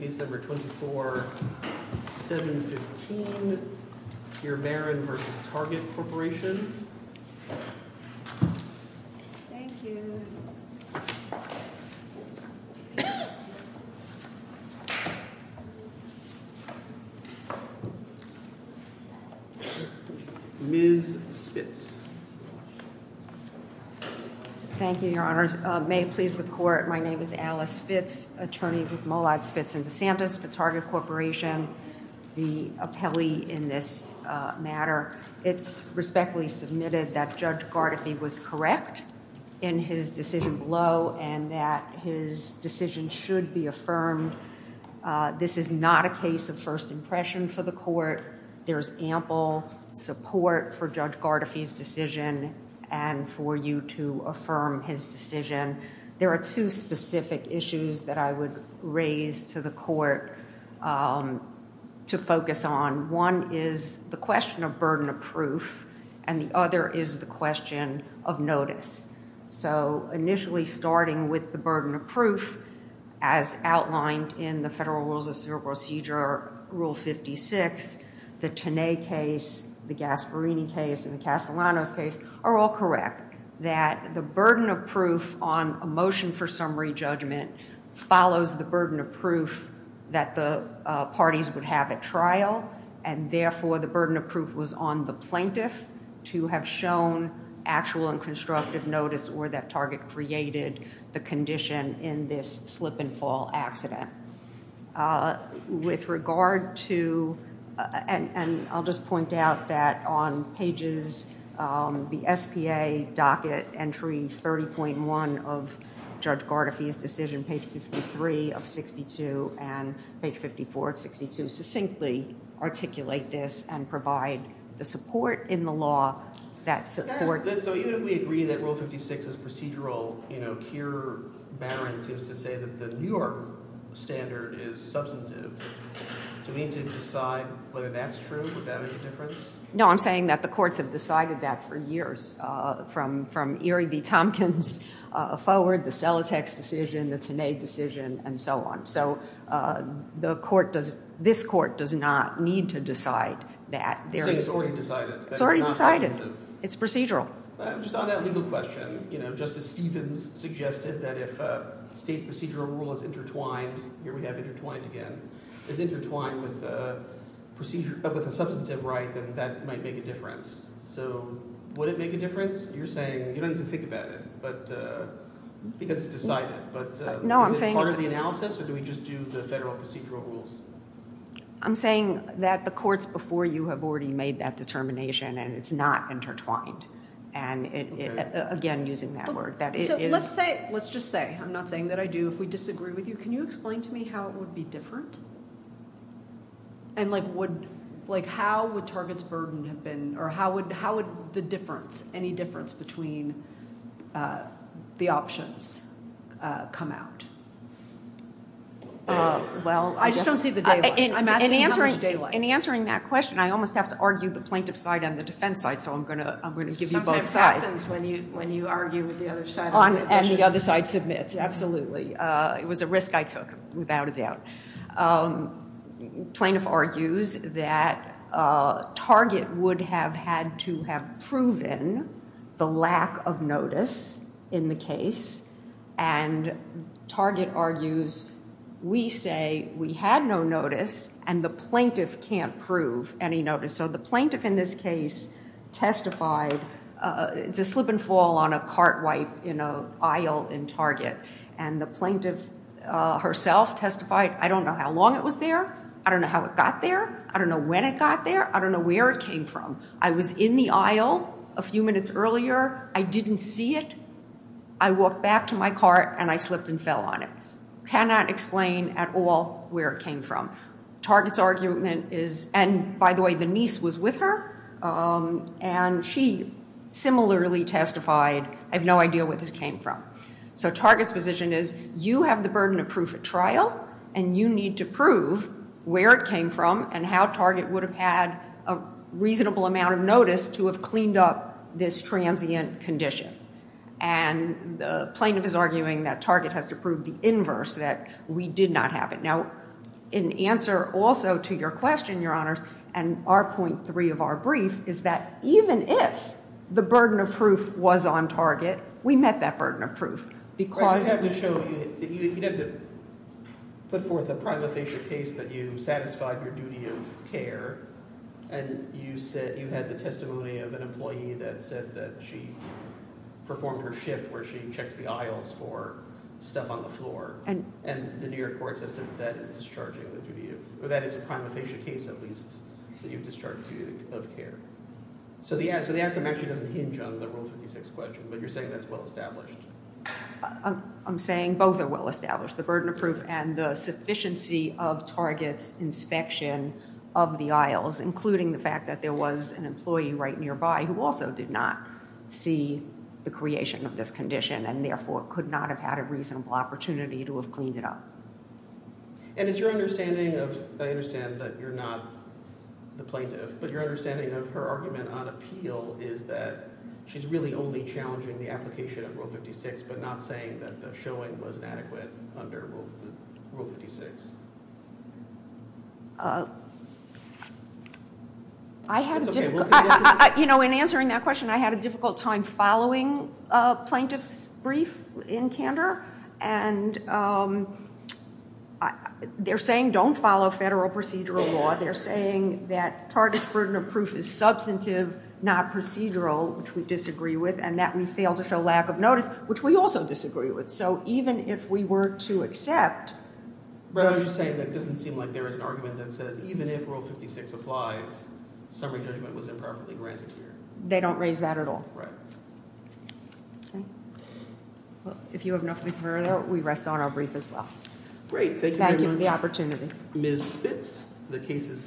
Ms. Spitz Thank you, Your Honors. May it please the Court, my name is Alice Spitz, attorney with Mollad, Spitz & DeSantis, Spitz Target Corporation, the appellee in this matter. It's respectfully submitted that Judge Gardefi was correct in his decision below and that his decision should be affirmed. This is not a case of first impression for the Court. There is ample support for Judge Gardefi's decision and for you to affirm his decision. There are two specific issues that I would raise to the Court to focus on. One is the question of burden of proof and the other is the question of notice. So initially starting with the burden of proof as outlined in the Federal Rules of Procedure or Rule 56, the Tanay case, the Gasparini case, and the Castellanos case are all correct that the burden of proof on a motion for summary judgment follows the burden of proof that the parties would have at trial and therefore the burden of proof was on the plaintiff to have shown actual and constructive notice or that target created the condition in this slip and fall accident. With regard to, and I'll just point out that on pages, the SPA docket entry 30.1 of Judge Gardefi's decision, page 53 of 62 and page 54 of 62, succinctly articulate this and provide the support in the law that supports. So even if we agree that Rule 56 is procedural, you know, Keir Barron seems to say that the New York standard is substantive, do we need to decide whether that's true, would that make a difference? No, I'm saying that the courts have decided that for years from Erie v. Tompkins forward, the Stellatex decision, the Tanay decision, and so on. So the court does, this court does not need to decide that. It's already decided. It's already decided. It's procedural. Just on that legal question, you know, Justice Stevens suggested that if a state procedural rule is intertwined, here we have intertwined again, is intertwined with a substantive right, then that might make a difference. So would it make a difference? You're saying, you don't need to think about it, because it's decided, but is it part of the analysis or do we just do the federal procedural rules? I'm saying that the courts before you have already made that determination and it's not intertwined. And again, using that word, that it is... Let's say, let's just say, I'm not saying that I do, if we disagree with you, can you explain to me how it would be different? And like, would, like, how would Target's burden have been, or how would, how would the difference, any difference between the options come out? Well, I just don't see the daylight. I'm asking how much daylight. In answering that question, I almost have to argue the plaintiff side and the defense side, so I'm going to, I'm going to give you both sides. Sometimes it happens when you, when you argue with the other side. And the other side submits, absolutely. It was a risk I took, without a doubt. Plaintiff argues that Target would have had to have proven the lack of notice in the case and Target argues, we say we had no notice and the plaintiff can't prove any notice. So the plaintiff in this case testified, it's a slip and fall on a cart wipe in a aisle in Target and the plaintiff herself testified, I don't know how long it was there, I don't know how it got there, I don't know when it got there, I don't know where it came from. I was in the aisle a few minutes earlier, I didn't see it. I walked back to my cart and I slipped and fell on it. Cannot explain at all where it came from. Target's argument is, and by the way, the niece was with her and she similarly testified, I have no idea where this came from. So Target's position is, you have the burden of proof at trial and you need to prove where it came from and how Target would have had a reasonable amount of notice to have cleaned up this transient condition. And the plaintiff is arguing that Target has to prove the inverse, that we did not have it. Now, in answer also to your question, your honors, and our point three of our brief is that even if the burden of proof was on Target, we met that burden of proof because- You have to show, you have to put forth a primal facial case that you satisfied your duty of care, and you said you had the testimony of an employee that said that she performed her shift where she checks the aisles for stuff on the floor, and the New York courts have said that that is discharging the duty of, or that is a primal facial case at least, that you've discharged the duty of care. So the outcome actually doesn't hinge on the Rule 56 question, but you're saying that's well established. I'm saying both are well established. The burden of proof and the sufficiency of Target's inspection of the aisles, including the fact that there was an employee right nearby who also did not see the creation of this condition, and therefore could not have had a reasonable opportunity to have cleaned it up. And it's your understanding of, I understand that you're not the plaintiff, but your understanding of her argument on appeal is that she's really only challenging the application of Rule 56, but not saying that the showing wasn't adequate under Rule 56. I had a difficult, you know, in answering that question, I had a difficult time following a plaintiff's brief in candor, and they're saying don't follow federal procedural law. They're saying that Target's burden of proof is substantive, not procedural, which we disagree with, and that we fail to show lack of notice, which we also disagree with. So even if we were to accept... But I'm just saying that it doesn't seem like there is an argument that says even if Rule 56 applies, summary judgment was improperly granted here. They don't raise that at all. Right. Okay. Well, if you have nothing further, we rest on our brief as well. Great. Thank you very much. Thank you for the opportunity. Ms. Spitz, the case is submitted.